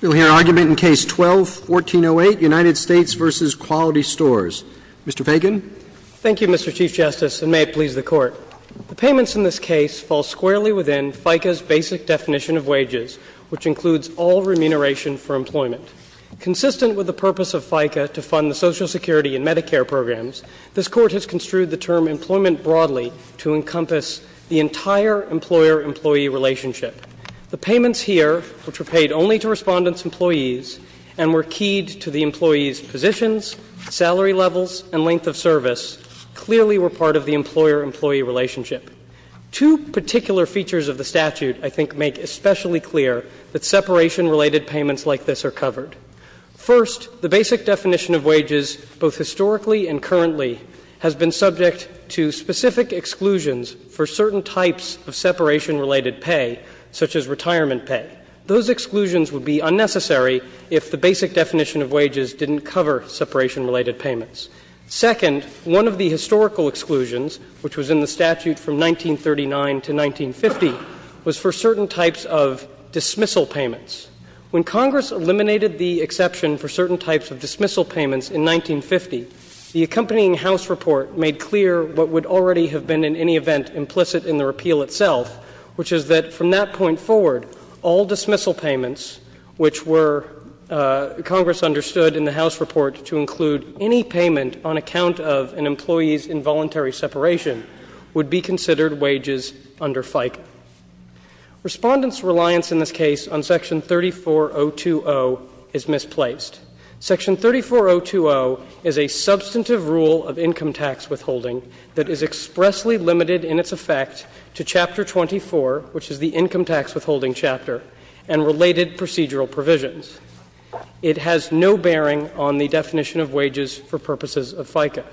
You'll hear argument in Case 12-1408, United States v. Quality Stores. Mr. Fagan. Thank you, Mr. Chief Justice, and may it please the Court. The payments in this case fall squarely within FICA's basic definition of wages, which includes all remuneration for employment. Consistent with the purpose of FICA to fund the Social Security and Medicare programs, this Court has construed the term employment broadly to encompass the entire employer-employee relationship. The payments here, which were paid only to respondents' employees and were keyed to the employees' positions, salary levels, and length of service, clearly were part of the employer-employee relationship. Two particular features of the statute, I think, make especially clear that separation-related payments like this are covered. First, the basic definition of wages, both historically and currently, has been subject to specific exclusions for certain types of separation-related pay, such as retirement pay. Those exclusions would be unnecessary if the basic definition of wages didn't cover separation-related payments. Second, one of the historical exclusions, which was in the statute from 1939 to 1950, was for certain types of dismissal payments. When Congress eliminated the exception for certain types of dismissal payments in 1950, the accompanying House report made clear what would already have been, in any event, implicit in the repeal itself, which is that from that point forward, all dismissal payments, which were, Congress understood in the House report, to include any payment on account of an employee's involuntary separation, would be considered wages under FICA. Respondents' reliance in this case on Section 34020 is misplaced. Section 34020 is a substantive rule of income tax withholding that is expressly limited in its effect to Chapter 24, which is the income tax withholding chapter, and related procedural provisions. It has no bearing on the definition of wages for purposes of FICA.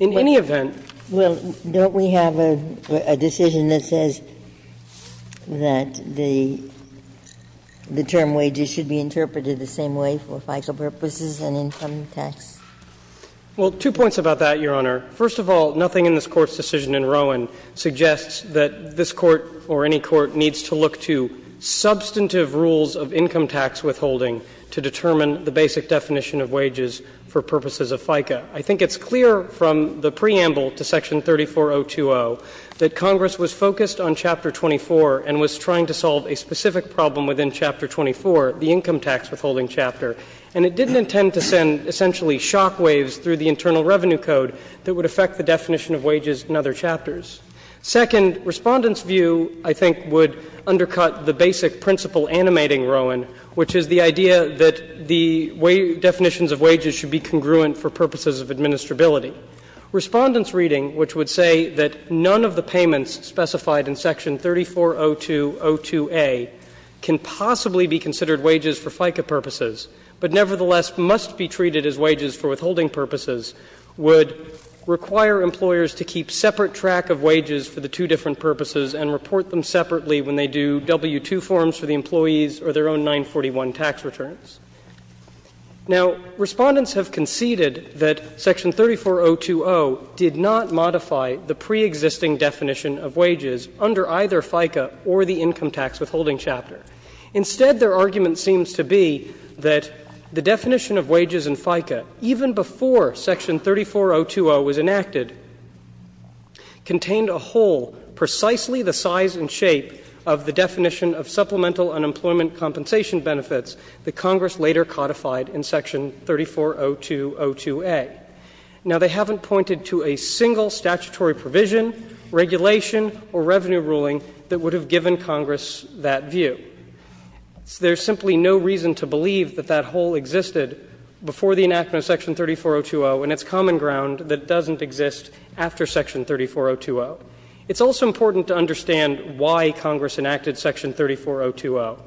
In any event. Ginsburg. Well, don't we have a decision that says that the term wages should be interpreted the same way for FICA purposes and income tax? Well, two points about that, Your Honor. First of all, nothing in this Court's decision in Rowan suggests that this Court or any court needs to look to substantive rules of income tax withholding to determine the basic definition of wages for purposes of FICA. I think it's clear from the preamble to Section 34020 that Congress was focused on Chapter 24 and was trying to solve a specific problem within Chapter 24, the income tax withholding chapter, and it didn't intend to send essentially shock waves through the Internal Revenue Code that would affect the definition of wages in other chapters. Second, Respondents' view, I think, would undercut the basic principle animating Rowan, which is the idea that the definitions of wages should be congruent for purposes of administrability. Respondents' reading, which would say that none of the payments specified in Section 340202a can possibly be considered wages for FICA purposes, but nevertheless must be treated as wages for withholding purposes, would require employers to keep separate track of wages for the two different purposes and report them separately when they do W-2 forms for the employees or their own 941 tax returns. Now, Respondents have conceded that Section 34020 did not modify the preexisting definition of wages under either FICA or the income tax withholding chapter. Instead, their argument seems to be that the definition of wages in FICA, even before Section 34020 was enacted, contained a hole precisely the size and shape of the definition of supplemental unemployment compensation benefits that Congress later codified in Section 340202a. Now, they haven't pointed to a single statutory provision, regulation, or revenue ruling that would have given Congress that view. There's simply no reason to believe that that hole existed before the enactment of Section 34020 and it's common ground that it doesn't exist after Section 34020. It's also important to understand why Congress enacted Section 34020.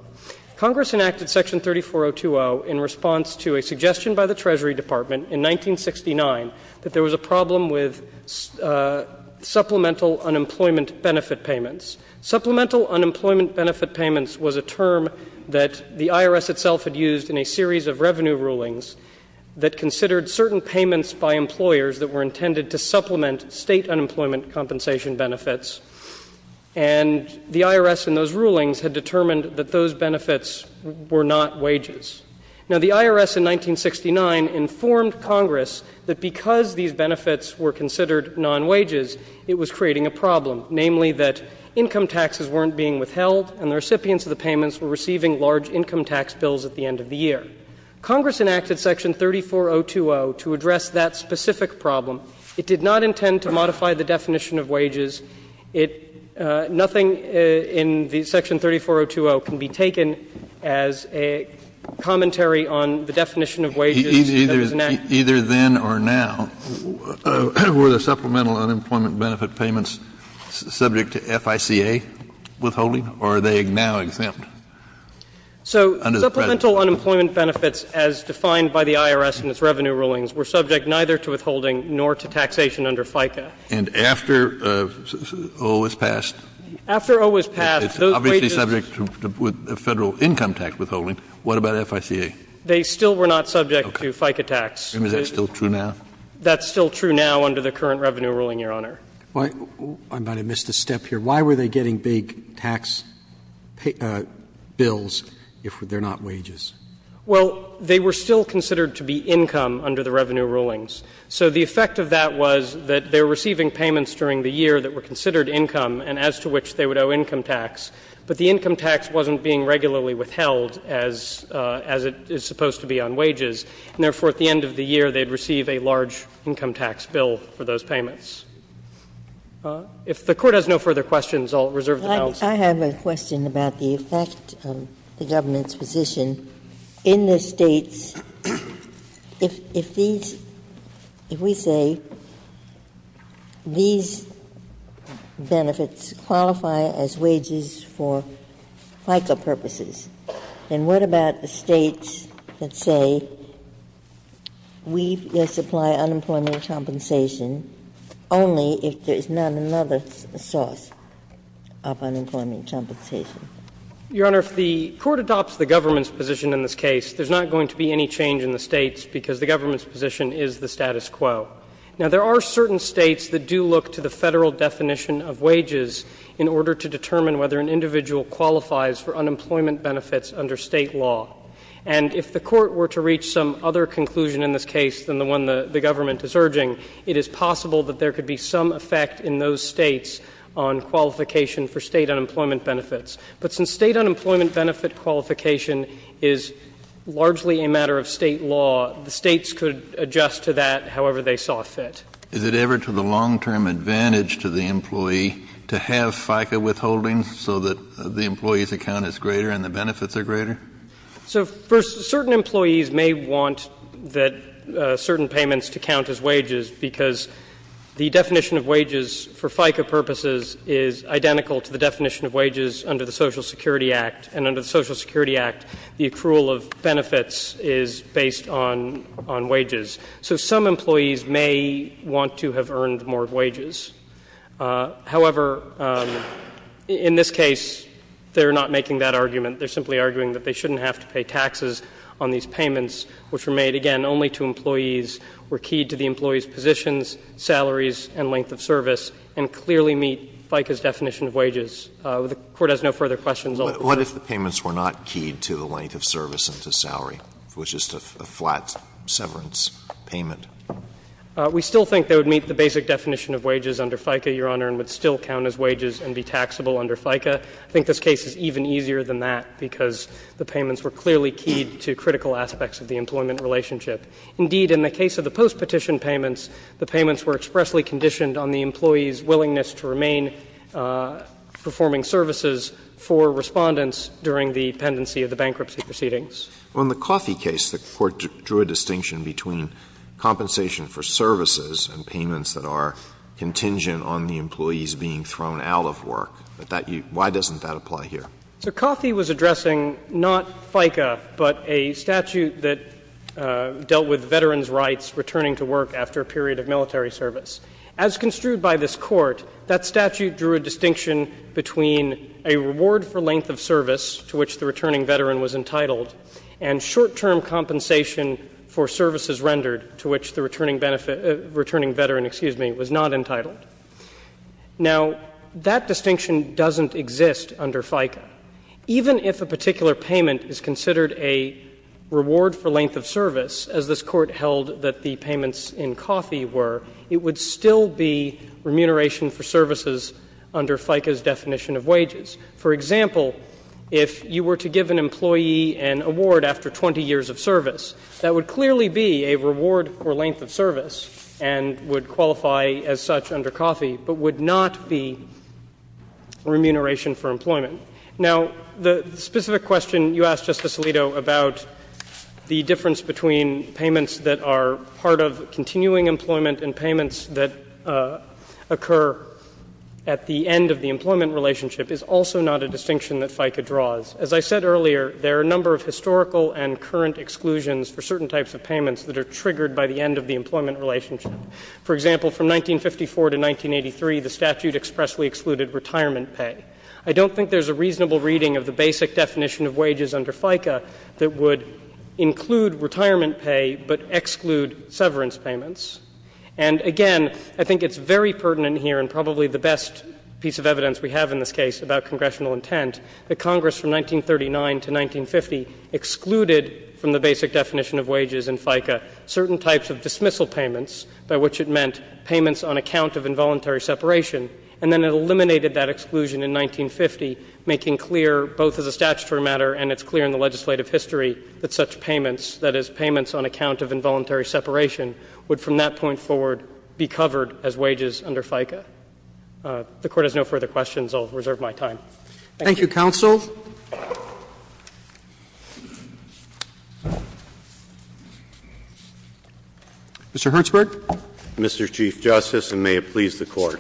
Congress enacted Section 34020 in response to a suggestion by the Treasury Department in 1969 that there was a problem with supplemental unemployment benefit payments. Supplemental unemployment benefit payments was a term that the IRS itself had used in a series of revenue rulings that considered certain payments by employers that were intended to supplement State unemployment compensation benefits. And the IRS in those rulings had determined that those benefits were not wages. Now, the IRS in 1969 informed Congress that because these benefits were considered non-wages, it was creating a problem, namely that income taxes weren't being withheld and the recipients of the payments were receiving large income tax bills at the end of the year. Congress enacted Section 34020 to address that specific problem. It did not intend to modify the definition of wages. It — nothing in the Section 34020 can be taken as a commentary on the definition of wages that was enacted. Kennedy, either then or now, were the supplemental unemployment benefit payments subject to FICA withholding, or are they now exempt under the present? So supplemental unemployment benefits, as defined by the IRS in its revenue rulings, were subject neither to withholding nor to taxation under FICA. And after O was passed? After O was passed, those wages. It's obviously subject to Federal income tax withholding. What about FICA? They still were not subject to FICA tax. Okay. And is that still true now? That's still true now under the current revenue ruling, Your Honor. I might have missed a step here. Why were they getting big tax bills if they're not wages? Well, they were still considered to be income under the revenue rulings. So the effect of that was that they were receiving payments during the year that were considered income and as to which they would owe income tax, but the income tax wasn't being regularly withheld as it is supposed to be on wages, and therefore at the end of the year they would receive a large income tax bill for those payments. If the Court has no further questions, I'll reserve the balance. Ginsburg. I have a question about the effect of the government's position. In the States, if these, if we say these benefits qualify as wages for FICA purposes, then what about the States that say we supply unemployment compensation only if there is not another source of unemployment compensation? Your Honor, if the Court adopts the government's position in this case, there's not going to be any change in the States because the government's position is the status quo. Now, there are certain States that do look to the Federal definition of wages in order to determine whether an individual qualifies for unemployment benefits under State law. And if the Court were to reach some other conclusion in this case than the one the government is urging, it is possible that there could be some effect in those States on qualification for State unemployment benefits. But since State unemployment benefit qualification is largely a matter of State law, the States could adjust to that however they saw fit. Kennedy, is it ever to the long-term advantage to the employee to have FICA withholding so that the employee's account is greater and the benefits are greater? So, first, certain employees may want that certain payments to count as wages because the definition of wages for FICA purposes is identical to the definition of wages under the Social Security Act. And under the Social Security Act, the accrual of benefits is based on wages. So some employees may want to have earned more wages. However, in this case, they are not making that argument. They are simply arguing that they shouldn't have to pay taxes on these payments, which were made, again, only to employees, were keyed to the employee's positions, salaries, and length of service, and clearly meet FICA's definition of wages. The Court has no further questions. Alito, sir. Alito, what if the payments were not keyed to the length of service and to salary? It was just a flat severance payment. We still think they would meet the basic definition of wages under FICA, Your Honor, and would still count as wages and be taxable under FICA. I think this case is even easier than that because the payments were clearly keyed to critical aspects of the employment relationship. Indeed, in the case of the postpetition payments, the payments were expressly conditioned on the employee's willingness to remain performing services for Respondents during the pendency of the bankruptcy proceedings. In the Coffey case, the Court drew a distinction between compensation for services and payments that are contingent on the employees being thrown out of work. Why doesn't that apply here? So Coffey was addressing not FICA, but a statute that dealt with veterans' rights returning to work after a period of military service. As construed by this Court, that statute drew a distinction between a reward for length of service to which the returning veteran was entitled and short-term compensation for services rendered to which the returning veteran, excuse me, was not entitled. Now, that distinction doesn't exist under FICA. Even if a particular payment is considered a reward for length of service, as this Court held that the payments in Coffey were, it would still be remuneration for services under FICA's definition of wages. For example, if you were to give an employee an award after 20 years of service, that would clearly be a reward for length of service and would qualify as such under Coffey, but would not be remuneration for employment. Now, the specific question you asked, Justice Alito, about the difference between payments that are part of continuing employment and payments that occur at the end of the employment relationship, is also not a distinction that FICA draws. As I said earlier, there are a number of historical and current exclusions for certain types of payments that are triggered by the end of the employment relationship. For example, from 1954 to 1983, the statute expressly excluded retirement pay. I don't think there's a reasonable reading of the basic definition of wages under FICA that would include retirement pay, but exclude severance payments. And again, I think it's very pertinent here, and probably the best piece of evidence we have in this case about congressional intent, that Congress from 1939 to 1950 excluded from the basic definition of wages in FICA certain types of dismissal payments, by which it meant payments on account of involuntary separation, and then it eliminated that exclusion in 1950, making clear, both as a statutory matter and it's clear in the legislative history, that such payments, that is, payments on account of involuntary separation, would from that point forward be covered as wages under FICA. If the Court has no further questions, I'll reserve my time. Thank you. Roberts. Mr. Hertzberg. Mr. Chief Justice, and may it please the Court.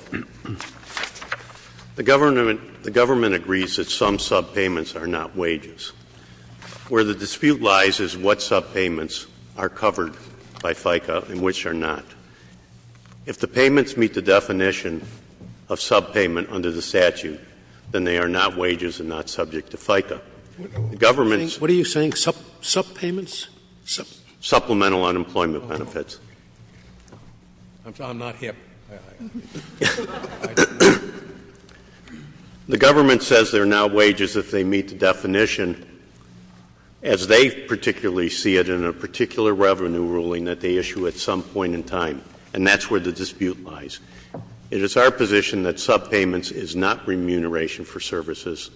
The government agrees that some subpayments are not wages. Where the dispute lies is what subpayments are covered by FICA and which are not. If the payments meet the definition of subpayment under the statute, then they are not wages and not subject to FICA. The government's — What are you saying? Subpayments? Supplemental unemployment benefits. I'm not hip. The government says they're not wages if they meet the definition, as they particularly see it in a particular revenue ruling that they issue at some point in time, and that's where the dispute lies. It is our position that subpayments is not remuneration for services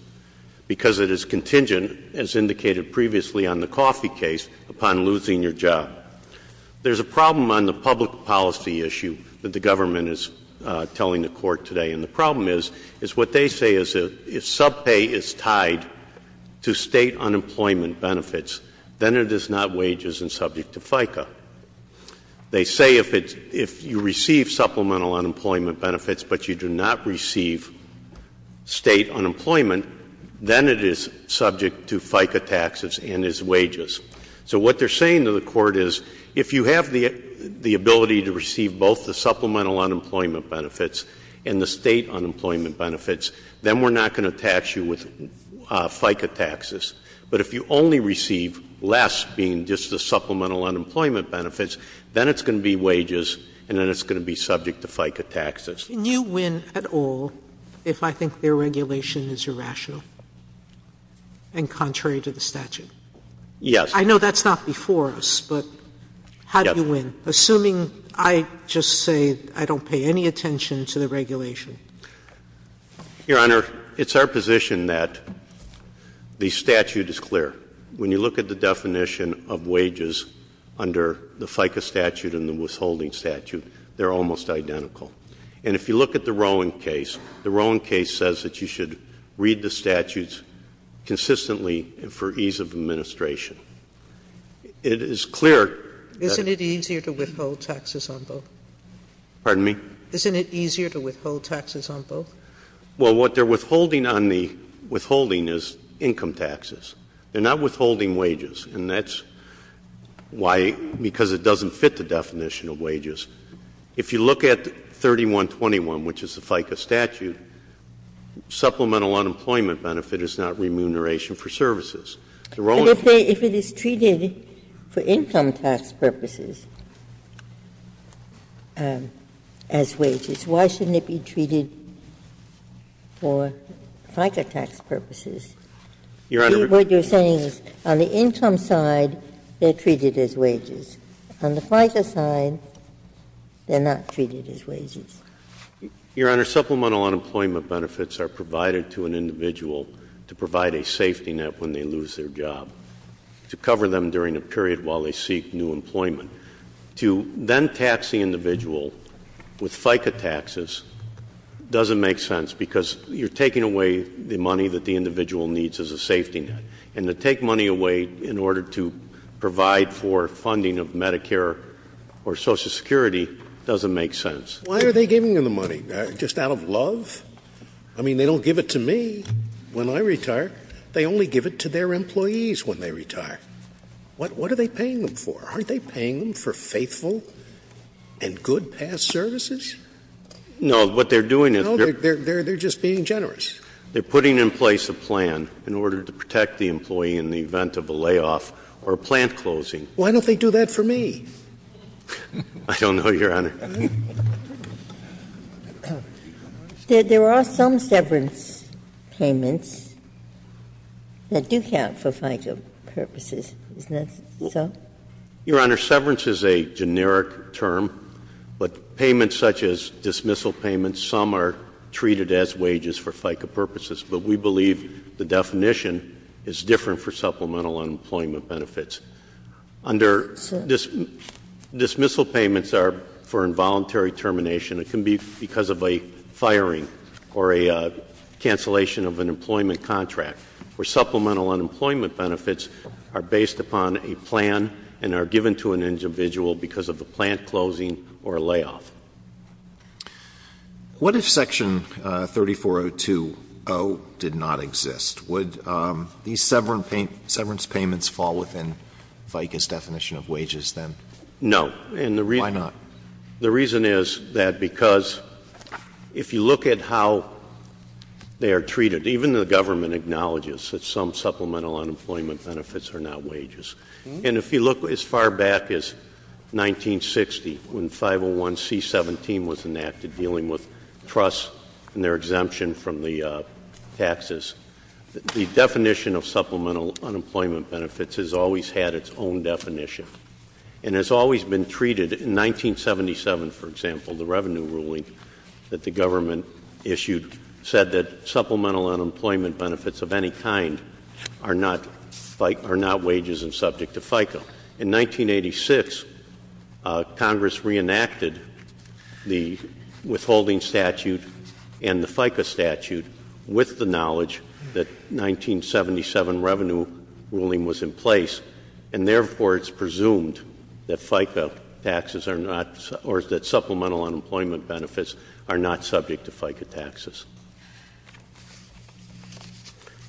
because it is contingent, as indicated previously on the coffee case, upon losing your job. There's a problem on the public policy issue that the government is telling the Court today, and the problem is, is what they say is if subpay is tied to State unemployment benefits, then it is not wages and subject to FICA. They say if it's — if you receive supplemental unemployment benefits but you do not receive State unemployment, then it is subject to FICA taxes and is wages. So what they're saying to the Court is if you have the ability to receive both the supplemental unemployment benefits and the State unemployment benefits, then we're not going to tax you with FICA taxes. But if you only receive less being just the supplemental unemployment benefits, then it's going to be wages and then it's going to be subject to FICA taxes. Can you win at all if I think their regulation is irrational and contrary to the statute? Yes. I know that's not before us, but how do you win, assuming I just say I don't pay any attention to the regulation? Your Honor, it's our position that the statute is clear. When you look at the definition of wages under the FICA statute and the withholding statute, they're almost identical. And if you look at the Rowan case, the Rowan case says that you should read the statutes consistently for ease of administration. It is clear. Isn't it easier to withhold taxes on both? Pardon me? Isn't it easier to withhold taxes on both? Well, what they're withholding on the withholding is income taxes. They're not withholding wages, and that's why, because it doesn't fit the definition of wages. If you look at 3121, which is the FICA statute, supplemental unemployment benefit is not remuneration for services. The Rowan case. If it is treated for income tax purposes as wages, why shouldn't it be treated for FICA tax purposes? Your Honor. What you're saying is on the income side, they're treated as wages. On the FICA side, they're not treated as wages. Your Honor, supplemental unemployment benefits are provided to an individual to provide a safety net when they lose their job, to cover them during a period while they seek new employment. To then tax the individual with FICA taxes doesn't make sense because you're taking away the money that the individual needs as a safety net. And to take money away in order to provide for funding of Medicare or Social Security doesn't make sense. Why are they giving them the money? Just out of love? I mean, they don't give it to me when I retire. They only give it to their employees when they retire. What are they paying them for? Aren't they paying them for faithful and good past services? No. What they're doing is they're just being generous. They're putting in place a plan in order to protect the employee in the event of a layoff or a plant closing. Why don't they do that for me? I don't know, Your Honor. There are some severance payments that do count for FICA purposes. Isn't that so? Your Honor, severance is a generic term, but payments such as dismissal payments, some are treated as wages for FICA purposes. But we believe the definition is different for supplemental unemployment benefits. Under this, dismissal payments are for involuntary termination. It can be because of a firing or a cancellation of an employment contract, where supplemental unemployment benefits are based upon a plan and are given to an individual because of a plant closing or a layoff. What if Section 3402.0 did not exist? Would these severance payments fall within FICA's definition of wages, then? No. Why not? The reason is that because if you look at how they are treated, even the government acknowledges that some supplemental unemployment benefits are not wages. And if you look as far back as 1960, when 501C17 was enacted, dealing with trust and their exemption from the taxes, the definition of supplemental unemployment benefits has always had its own definition and has always been treated. In 1977, for example, the revenue ruling that the government issued said that supplemental unemployment benefits of any kind are not wages and subject to FICA. In 1986, Congress reenacted the withholding statute and the FICA statute with the knowledge that 1977 revenue ruling was in place, and therefore it's presumed that FICA taxes are not or that supplemental unemployment benefits are not subject to FICA taxes.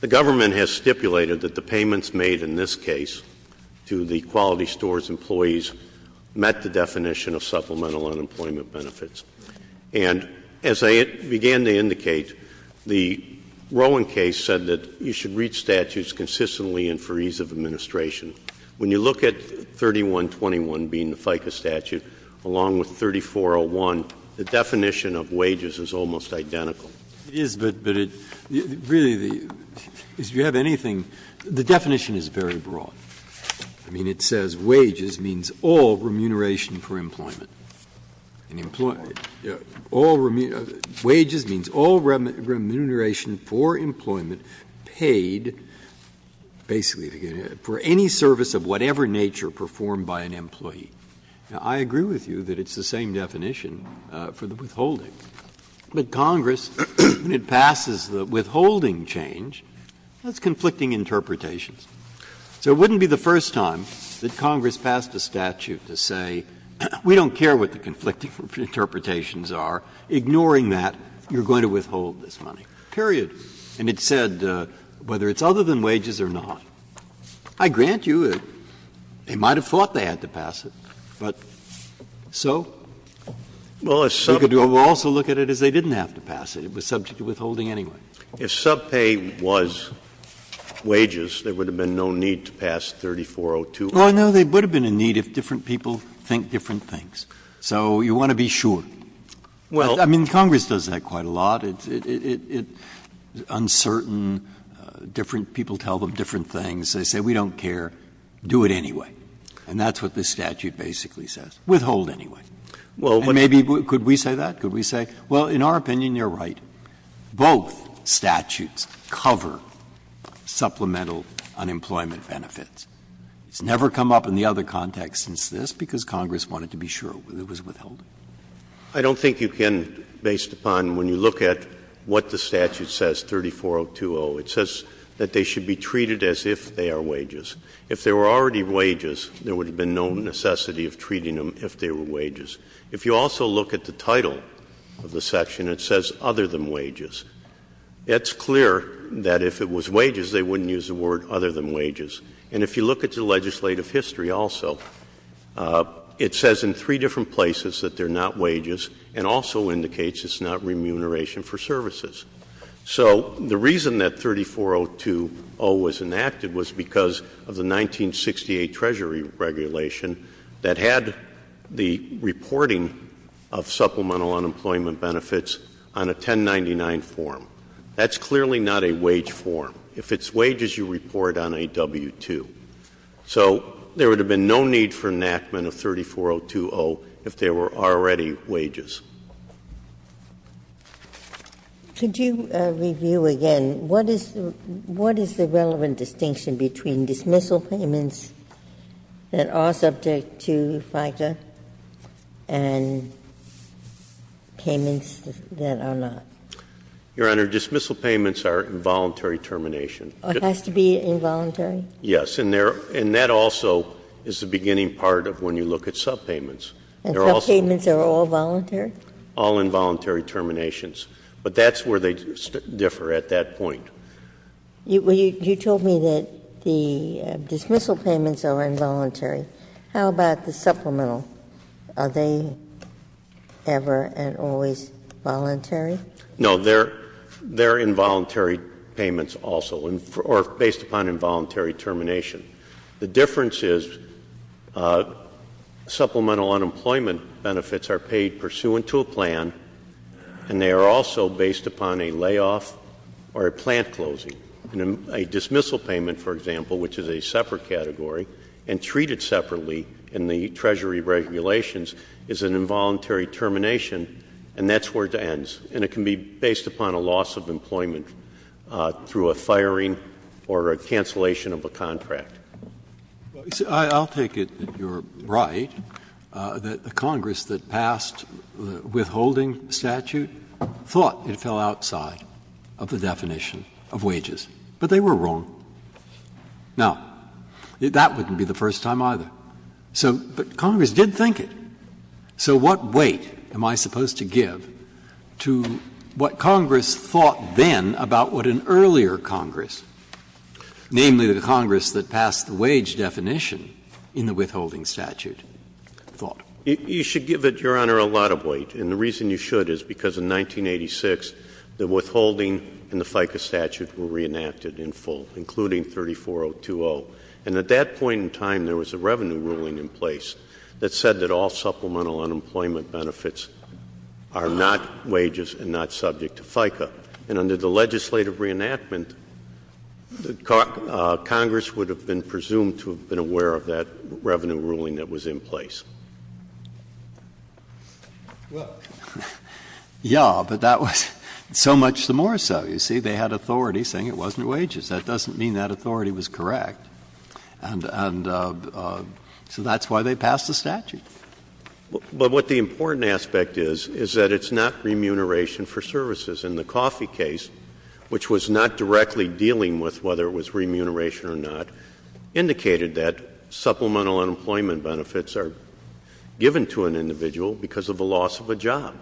The government has stipulated that the payments made in this case to the quality stores employees met the definition of supplemental unemployment benefits. And as I began to indicate, the Rowan case said that you should read statutes consistently and for ease of administration. When you look at 3121 being the FICA statute, along with 3401, the definition of wages is almost identical. Breyer. It is, but really, if you have anything, the definition is very broad. I mean, it says wages means all remuneration for employment. Wages means all remuneration for employment paid basically for any service of whatever nature performed by an employee. Now, I agree with you that it's the same definition for the withholding. But Congress, when it passes the withholding change, that's conflicting interpretations. So it wouldn't be the first time that Congress passed a statute to say, we don't care what the conflicting interpretations are, ignoring that, you're going to withhold this money, period. And it said whether it's other than wages or not. I grant you they might have thought they had to pass it, but so? You could also look at it as they didn't have to pass it. It was subject to withholding anyway. If subpay was wages, there would have been no need to pass 3402. Well, no, there would have been a need if different people think different things. So you want to be sure. Well, I mean, Congress does that quite a lot. It's uncertain. Different people tell them different things. They say, we don't care, do it anyway. And that's what this statute basically says. Withhold anyway. And maybe, could we say that? Could we say, well, in our opinion, you're right. Both statutes cover supplemental unemployment benefits. It's never come up in the other context since this, because Congress wanted to be sure it was withholding. I don't think you can, based upon when you look at what the statute says, 34020. It says that they should be treated as if they are wages. If they were already wages, there would have been no necessity of treating them if they were wages. If you also look at the title of the section, it says other than wages. It's clear that if it was wages, they wouldn't use the word other than wages. And if you look at the legislative history also, it says in three different places that they're not wages, and also indicates it's not remuneration for services. So the reason that 34020 was enacted was because of the 1968 Treasury regulation that had the reporting of supplemental unemployment benefits on a 1099 form. That's clearly not a wage form. If it's wages, you report on a W-2. So there would have been no need for enactment of 34020 if they were already wages. Ginsburg. Could you review again what is the relevant distinction between dismissal payments that are subject to FICA and payments that are not? Your Honor, dismissal payments are involuntary termination. It has to be involuntary? Yes. And that also is the beginning part of when you look at subpayments. And subpayments are all voluntary? All involuntary terminations. But that's where they differ at that point. You told me that the dismissal payments are involuntary. How about the supplemental? Are they ever and always voluntary? No. They're involuntary payments also, or based upon involuntary termination. The difference is supplemental unemployment benefits are paid pursuant to a plan, and they are also based upon a layoff or a plant closing. A dismissal payment, for example, which is a separate category, and treated separately in the Treasury regulations is an involuntary termination, and that's where it ends. And it can be based upon a loss of employment through a firing or a cancellation of a contract. I'll take it that you're right, that the Congress that passed the withholding statute thought it fell outside of the definition of wages. But they were wrong. Now, that wouldn't be the first time either. But Congress did think it. So what weight am I supposed to give to what Congress thought then about what an earlier Congress, namely the Congress that passed the wage definition in the withholding statute, thought? You should give it, Your Honor, a lot of weight, and the reason you should is because in 1986 the withholding and the FICA statute were reenacted in full, including 34020. And at that point in time there was a revenue ruling in place that said that all supplemental unemployment benefits are not wages and not subject to FICA. And under the legislative reenactment, Congress would have been presumed to have been aware of that revenue ruling that was in place. Well, yes, but that was so much the more so. You see, they had authority saying it wasn't wages. That doesn't mean that authority was correct. And so that's why they passed the statute. But what the important aspect is, is that it's not remuneration for services. And the Coffey case, which was not directly dealing with whether it was remuneration or not, indicated that supplemental unemployment benefits are given to an individual because of the loss of a job.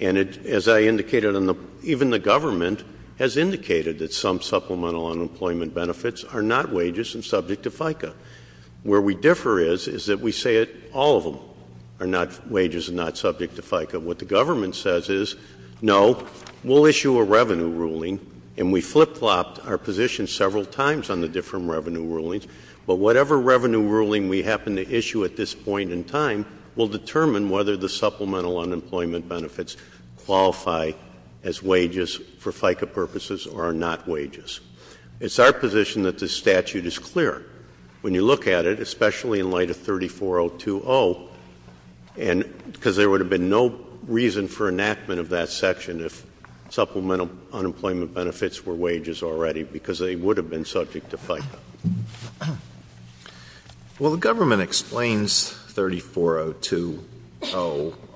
And as I indicated, even the government has indicated that some supplemental unemployment benefits are not wages and subject to FICA. Where we differ is, is that we say that all of them are not wages and not subject to FICA. What the government says is, no, we'll issue a revenue ruling, and we flip-flopped our position several times on the different revenue rulings, but whatever revenue ruling we happen to issue at this point in time will determine whether the supplemental unemployment benefits qualify as wages for FICA purposes or are not wages. It's our position that this statute is clear. When you look at it, especially in light of 34020, and because there would have been no reason for enactment of that section if supplemental unemployment benefits were wages already, because they would have been subject to FICA. Well, the government explains 34020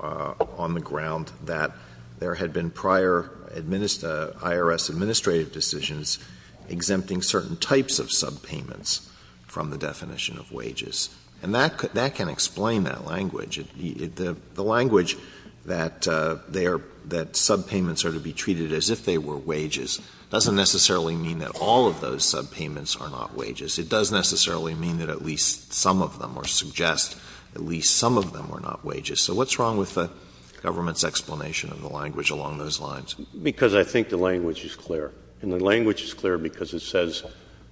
on the ground that there had been prior IRS administrative decisions exempting certain types of subpayments from the definition of wages. And that can explain that language. The language that subpayments are to be treated as if they were wages doesn't necessarily mean that all of those subpayments are not wages. It does necessarily mean that at least some of them, or suggest at least some of them are not wages. So what's wrong with the government's explanation of the language along those lines? Because I think the language is clear. And the language is clear because it says,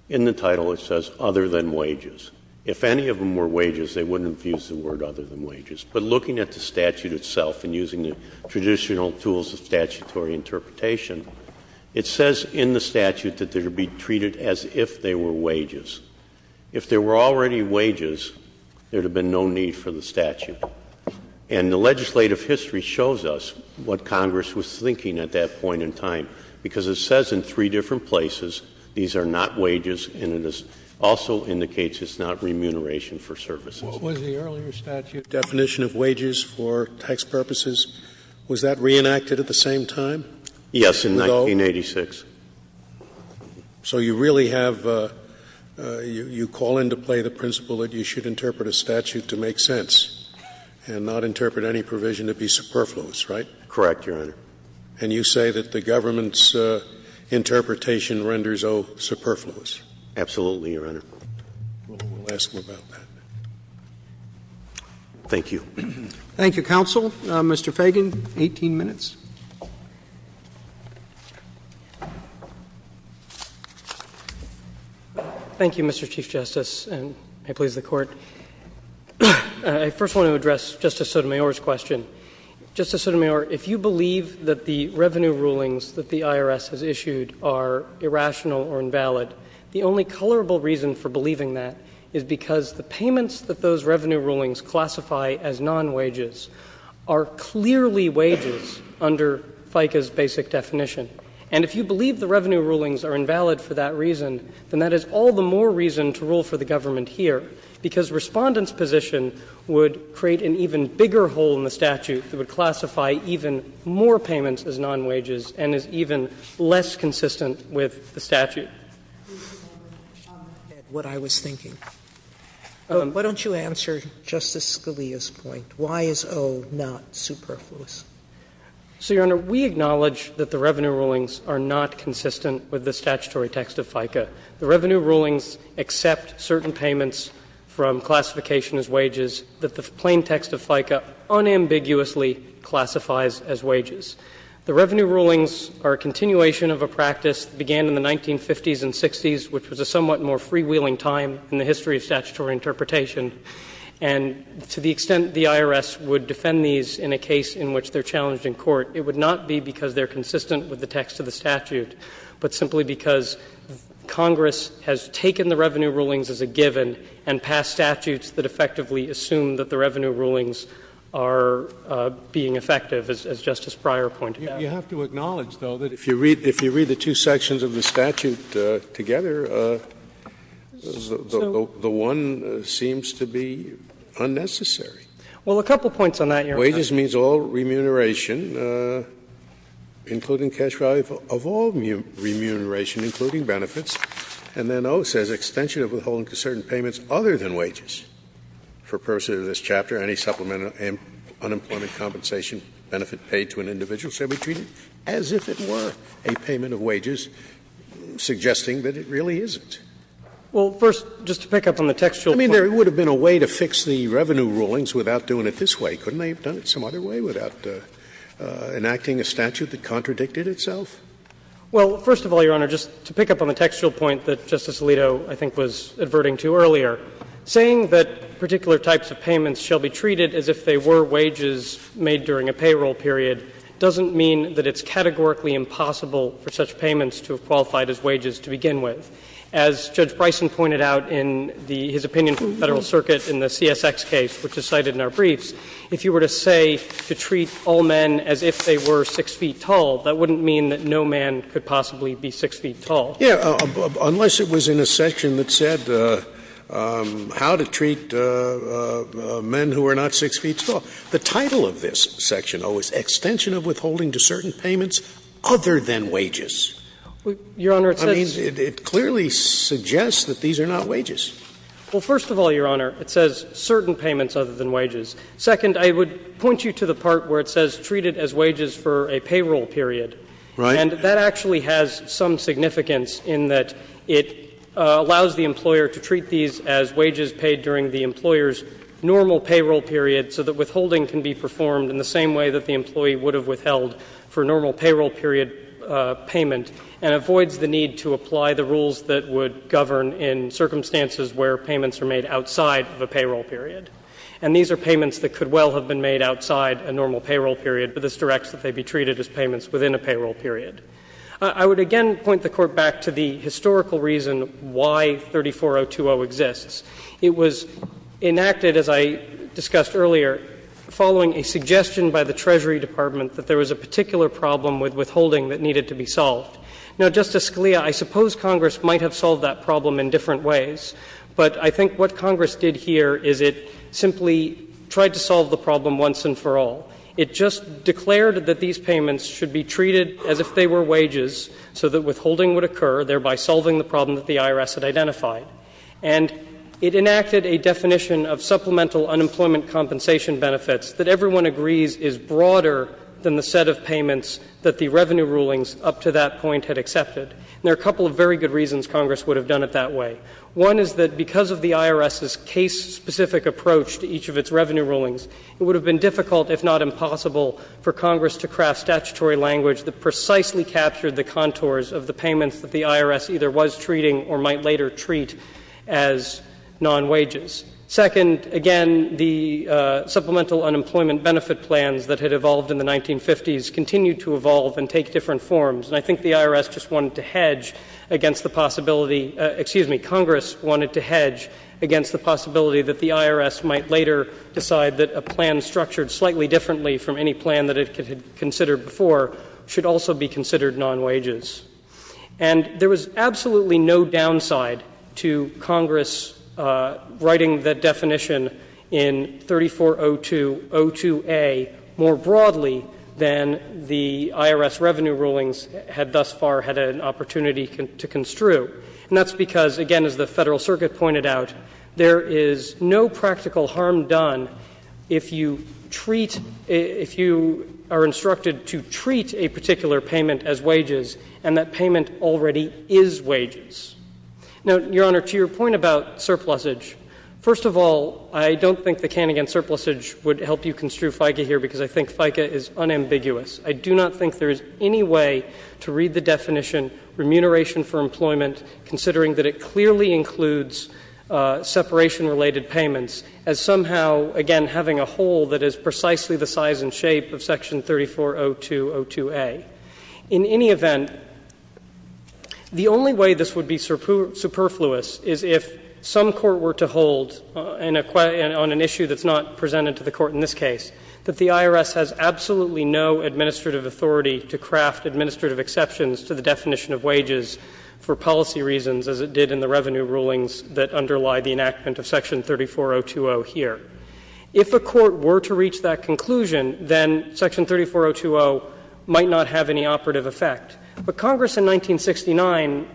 in the title it says, other than wages. If any of them were wages, they wouldn't have used the word other than wages. But looking at the statute itself and using the traditional tools of statutory interpretation, it says in the statute that they would be treated as if they were wages. If they were already wages, there would have been no need for the statute. And the legislative history shows us what Congress was thinking at that point in time, because it says in three different places these are not wages, and it also indicates it's not remuneration for services. Was the earlier statute definition of wages for tax purposes, was that reenacted at the same time? Yes, in 1986. So you really have — you call into play the principle that you should interpret a statute to make sense and not interpret any provision to be superfluous, right? Correct, Your Honor. And you say that the government's interpretation renders O superfluous? Absolutely, Your Honor. We'll ask him about that. Thank you. Thank you, counsel. Mr. Fagan, 18 minutes. Thank you, Mr. Chief Justice, and may it please the Court. I first want to address Justice Sotomayor's question. Justice Sotomayor, if you believe that the revenue rulings that the IRS has issued are irrational or invalid, the only colorable reason for believing that is because the payments that those revenue rulings classify as non-wages are clearly wages under FICA's basic definition. And if you believe the revenue rulings are invalid for that reason, then that is all the more reason to rule for the government here, because Respondent's position would create an even bigger hole in the statute that would classify even more payments as non-wages and is even less consistent with the statute. Mr. Fagan. What I was thinking. Why don't you answer Justice Scalia's point? Why is O not superfluous? So, Your Honor, we acknowledge that the revenue rulings are not consistent with the statutory text of FICA. The revenue rulings accept certain payments from classification as wages that the plain text of FICA unambiguously classifies as wages. The revenue rulings are a continuation of a practice that began in the 1950s and 1960s, which was a somewhat more freewheeling time in the history of statutory interpretation, and to the extent the IRS would defend these in a case in which they are challenged in court, it would not be because they are consistent with the text of the statute, but simply because Congress has taken the revenue rulings as a given and passed statutes that effectively assume that the revenue rulings are being effective, as Justice Breyer pointed out. You have to acknowledge, though, that if you read the two sections of the statute together, the one seems to be unnecessary. Well, a couple of points on that, Your Honor. Wages means all remuneration, including cash value of all remuneration, including benefits, and then O says extension of withholding to certain payments other than unemployment compensation benefit paid to an individual shall be treated as if it were a payment of wages, suggesting that it really isn't. Well, first, just to pick up on the textual point. I mean, there would have been a way to fix the revenue rulings without doing it this way. Couldn't they have done it some other way without enacting a statute that contradicted itself? Well, first of all, Your Honor, just to pick up on the textual point that Justice Alito, I think, was adverting to earlier, saying that particular types of payments shall be treated as if they were wages made during a payroll period doesn't mean that it's categorically impossible for such payments to have qualified as wages to begin with. As Judge Bryson pointed out in his opinion for the Federal Circuit in the CSX case, which is cited in our briefs, if you were to say to treat all men as if they were 6 feet tall, that wouldn't mean that no man could possibly be 6 feet tall. Yeah, unless it was in a section that said how to treat men who are not 6 feet tall. The title of this section, O, is Extension of Withholding to Certain Payments Other than Wages. Your Honor, it says — I mean, it clearly suggests that these are not wages. Well, first of all, Your Honor, it says certain payments other than wages. Second, I would point you to the part where it says treat it as wages for a payroll period. Right. And that actually has some significance in that it allows the employer to treat these as wages paid during the employer's normal payroll period so that withholding can be performed in the same way that the employee would have withheld for a normal payroll period payment, and avoids the need to apply the rules that would govern in circumstances where payments are made outside of a payroll period. And these are payments that could well have been made outside a normal payroll period, but this directs that they be treated as payments within a payroll period. I would again point the Court back to the historical reason why 34020 exists. It was enacted, as I discussed earlier, following a suggestion by the Treasury Department that there was a particular problem with withholding that needed to be solved. Now, Justice Scalia, I suppose Congress might have solved that problem in different ways, but I think what Congress did here is it simply tried to solve the problem once and for all. It just declared that these payments should be treated as if they were wages so that withholding would occur, thereby solving the problem that the IRS had identified. And it enacted a definition of supplemental unemployment compensation benefits that everyone agrees is broader than the set of payments that the revenue rulings up to that point had accepted. And there are a couple of very good reasons Congress would have done it that way. One is that because of the IRS's case-specific approach to each of its revenue rulings, it would have been difficult, if not impossible, for Congress to craft statutory language that precisely captured the contours of the payments that the IRS either was treating or might later treat as non-wages. Second, again, the supplemental unemployment benefit plans that had evolved in the 1950s continue to evolve and take different forms. And I think the IRS just wanted to hedge against the possibility — excuse me, Congress wanted to hedge against the possibility that the IRS might later decide that a plan structured slightly differently from any plan that it had considered before should also be considered non-wages. And there was absolutely no downside to Congress writing the definition in 3402.02a more broadly than the IRS revenue rulings had thus far had an opportunity to construe. And that's because, again, as the Federal Circuit pointed out, there is no practical harm done if you treat — if you are instructed to treat a particular payment as wages and that payment already is wages. Now, Your Honor, to your point about surplusage, first of all, I don't think the Kanagan surplusage would help you construe FICA here because I think FICA is unambiguous. I do not think there is any way to read the definition, remuneration for employment, considering that it clearly includes separation-related payments, as somehow, again, having a hole that is precisely the size and shape of Section 3402.02a. In any event, the only way this would be superfluous is if some court were to hold on an issue that's not presented to the court in this case that the IRS has absolutely no administrative authority to craft administrative exceptions to the definition of wages for policy reasons as it did in the revenue rulings that underlie the enactment of Section 3402.0 here. If a court were to reach that conclusion, then Section 3402.0 might not have any operative effect. But Congress in 1969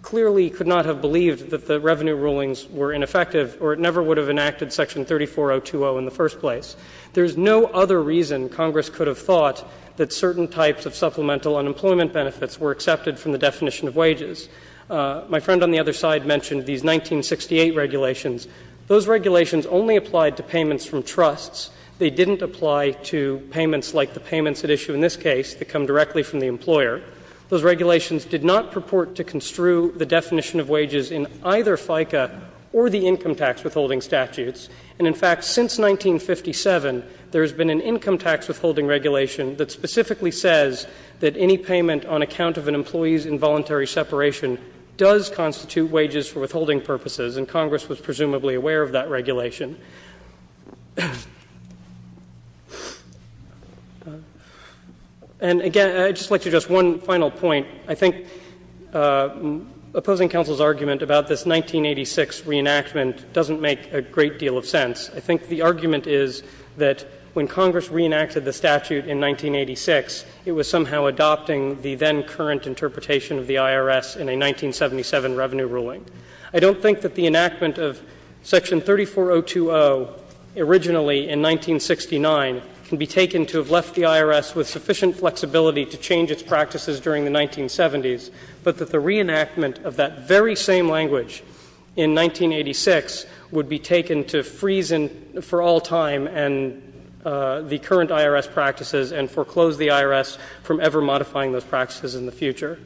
clearly could not have believed that the revenue rulings were ineffective, or it never would have enacted Section 3402.0 in the first place. There is no other reason Congress could have thought that certain types of supplemental unemployment benefits were accepted from the definition of wages. My friend on the other side mentioned these 1968 regulations. Those regulations only applied to payments from trusts. They didn't apply to payments like the payments at issue in this case that come directly from the employer. Those regulations did not purport to construe the definition of wages in either FICA or the income tax withholding statutes. And in fact, since 1957, there has been an income tax withholding regulation that specifically says that any payment on account of an employee's involuntary separation does constitute wages for withholding purposes, and Congress was presumably aware of that regulation. And again, I'd just like to just one final point. I think opposing counsel's argument about this 1986 reenactment doesn't make a great deal of sense. I think the argument is that when Congress reenacted the statute in 1986, it was somehow adopting the then current interpretation of the IRS in a 1977 revenue ruling. I don't think that the enactment of Section 3402.0 originally in 1969 can be taken to have left the IRS with sufficient flexibility to change its practices during the 1970s, but that the reenactment of that very same language in 1986 would be taken to freeze in for all time and the current IRS practices and foreclose the IRS from ever modifying those practices in the future.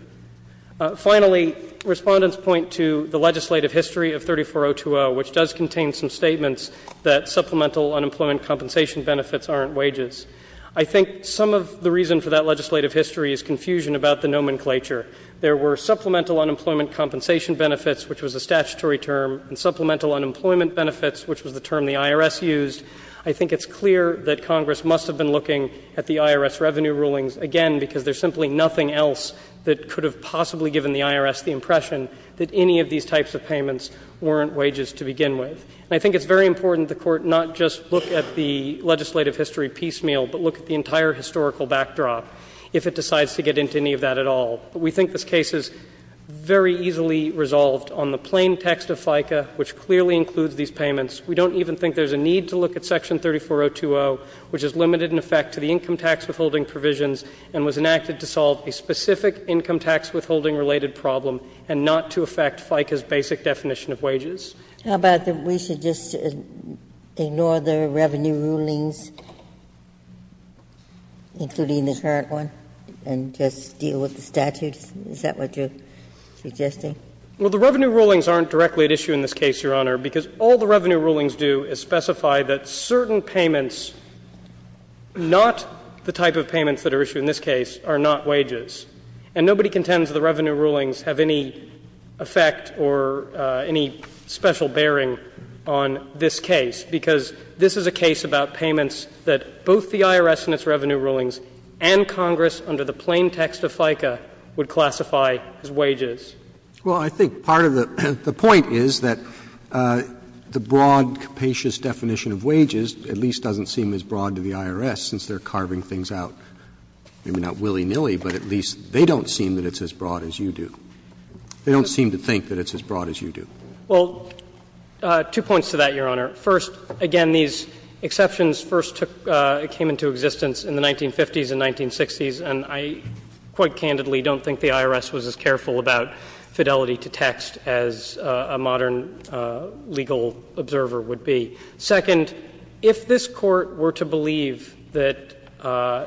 Finally, Respondents point to the legislative history of 3402.0, which does contain some statements that supplemental unemployment compensation benefits aren't wages. I think some of the reason for that legislative history is confusion about the nomenclature. There were supplemental unemployment compensation benefits, which was a statutory term, and supplemental unemployment benefits, which was the term the IRS used. I think it's clear that Congress must have been looking at the IRS revenue rulings again, because there's simply nothing else that could have possibly given the IRS the impression that any of these types of payments weren't wages to begin with. And I think it's very important the Court not just look at the legislative history piecemeal, but look at the entire historical backdrop. If it decides to get into any of that at all. We think this case is very easily resolved on the plain text of FICA, which clearly includes these payments. We don't even think there's a need to look at Section 3402.0, which is limited in effect to the income tax withholding provisions and was enacted to solve a specific income tax withholding-related problem and not to affect FICA's basic definition of wages. Ginsburg. How about that we should just ignore the revenue rulings, including the current one, and just deal with the statutes? Is that what you're suggesting? Well, the revenue rulings aren't directly at issue in this case, Your Honor, because all the revenue rulings do is specify that certain payments, not the type of payments that are issued in this case, are not wages. And nobody contends the revenue rulings have any effect or any special bearing on this case, because this is a case about payments that both the IRS and its revenue rulings and Congress under the plain text of FICA would classify as wages. Well, I think part of the point is that the broad capacious definition of wages at least doesn't seem as broad to the IRS, since they're carving things out, maybe not willy-nilly, but at least they don't seem that it's as broad as you do. They don't seem to think that it's as broad as you do. Well, two points to that, Your Honor. First, again, these exceptions first came into existence in the 1950s and 1960s, and I quite candidly don't think the IRS was as careful about fidelity to text as a modern legal observer would be. Second, if this Court were to believe that,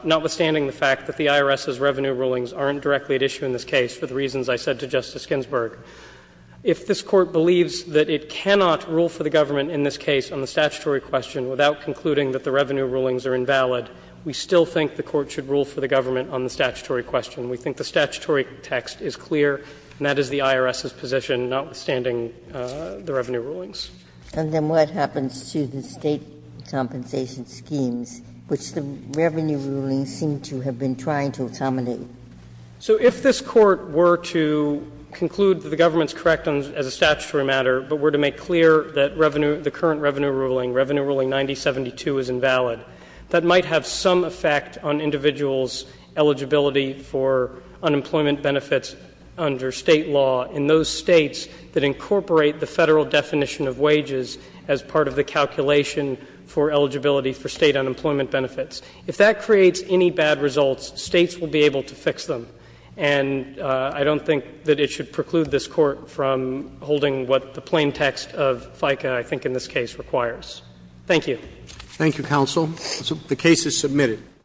notwithstanding the fact that the IRS's revenue rulings aren't directly at issue in this case, for the reasons I said to Justice Ginsburg, if this Court believes that it cannot rule for the government in this case on the statutory question without concluding that the revenue rulings are invalid, we still think the Court should rule for the government on the statutory question. We think the statutory text is clear, and that is the IRS's position, notwithstanding the revenue rulings. Ginsburg. And then what happens to the State compensation schemes, which the revenue rulings seem to have been trying to accommodate? So if this Court were to conclude that the government is correct as a statutory matter, but were to make clear that the current revenue ruling, Revenue Ruling 9072, is invalid, that might have some effect on individuals' eligibility for unemployment benefits under State law in those States that incorporate the Federal definition of wages as part of the calculation for eligibility for State unemployment benefits. If that creates any bad results, States will be able to fix them. And I don't think that it should preclude this Court from holding what the plain text of FICA, I think in this case, requires. Thank you. Thank you, counsel. The case is submitted.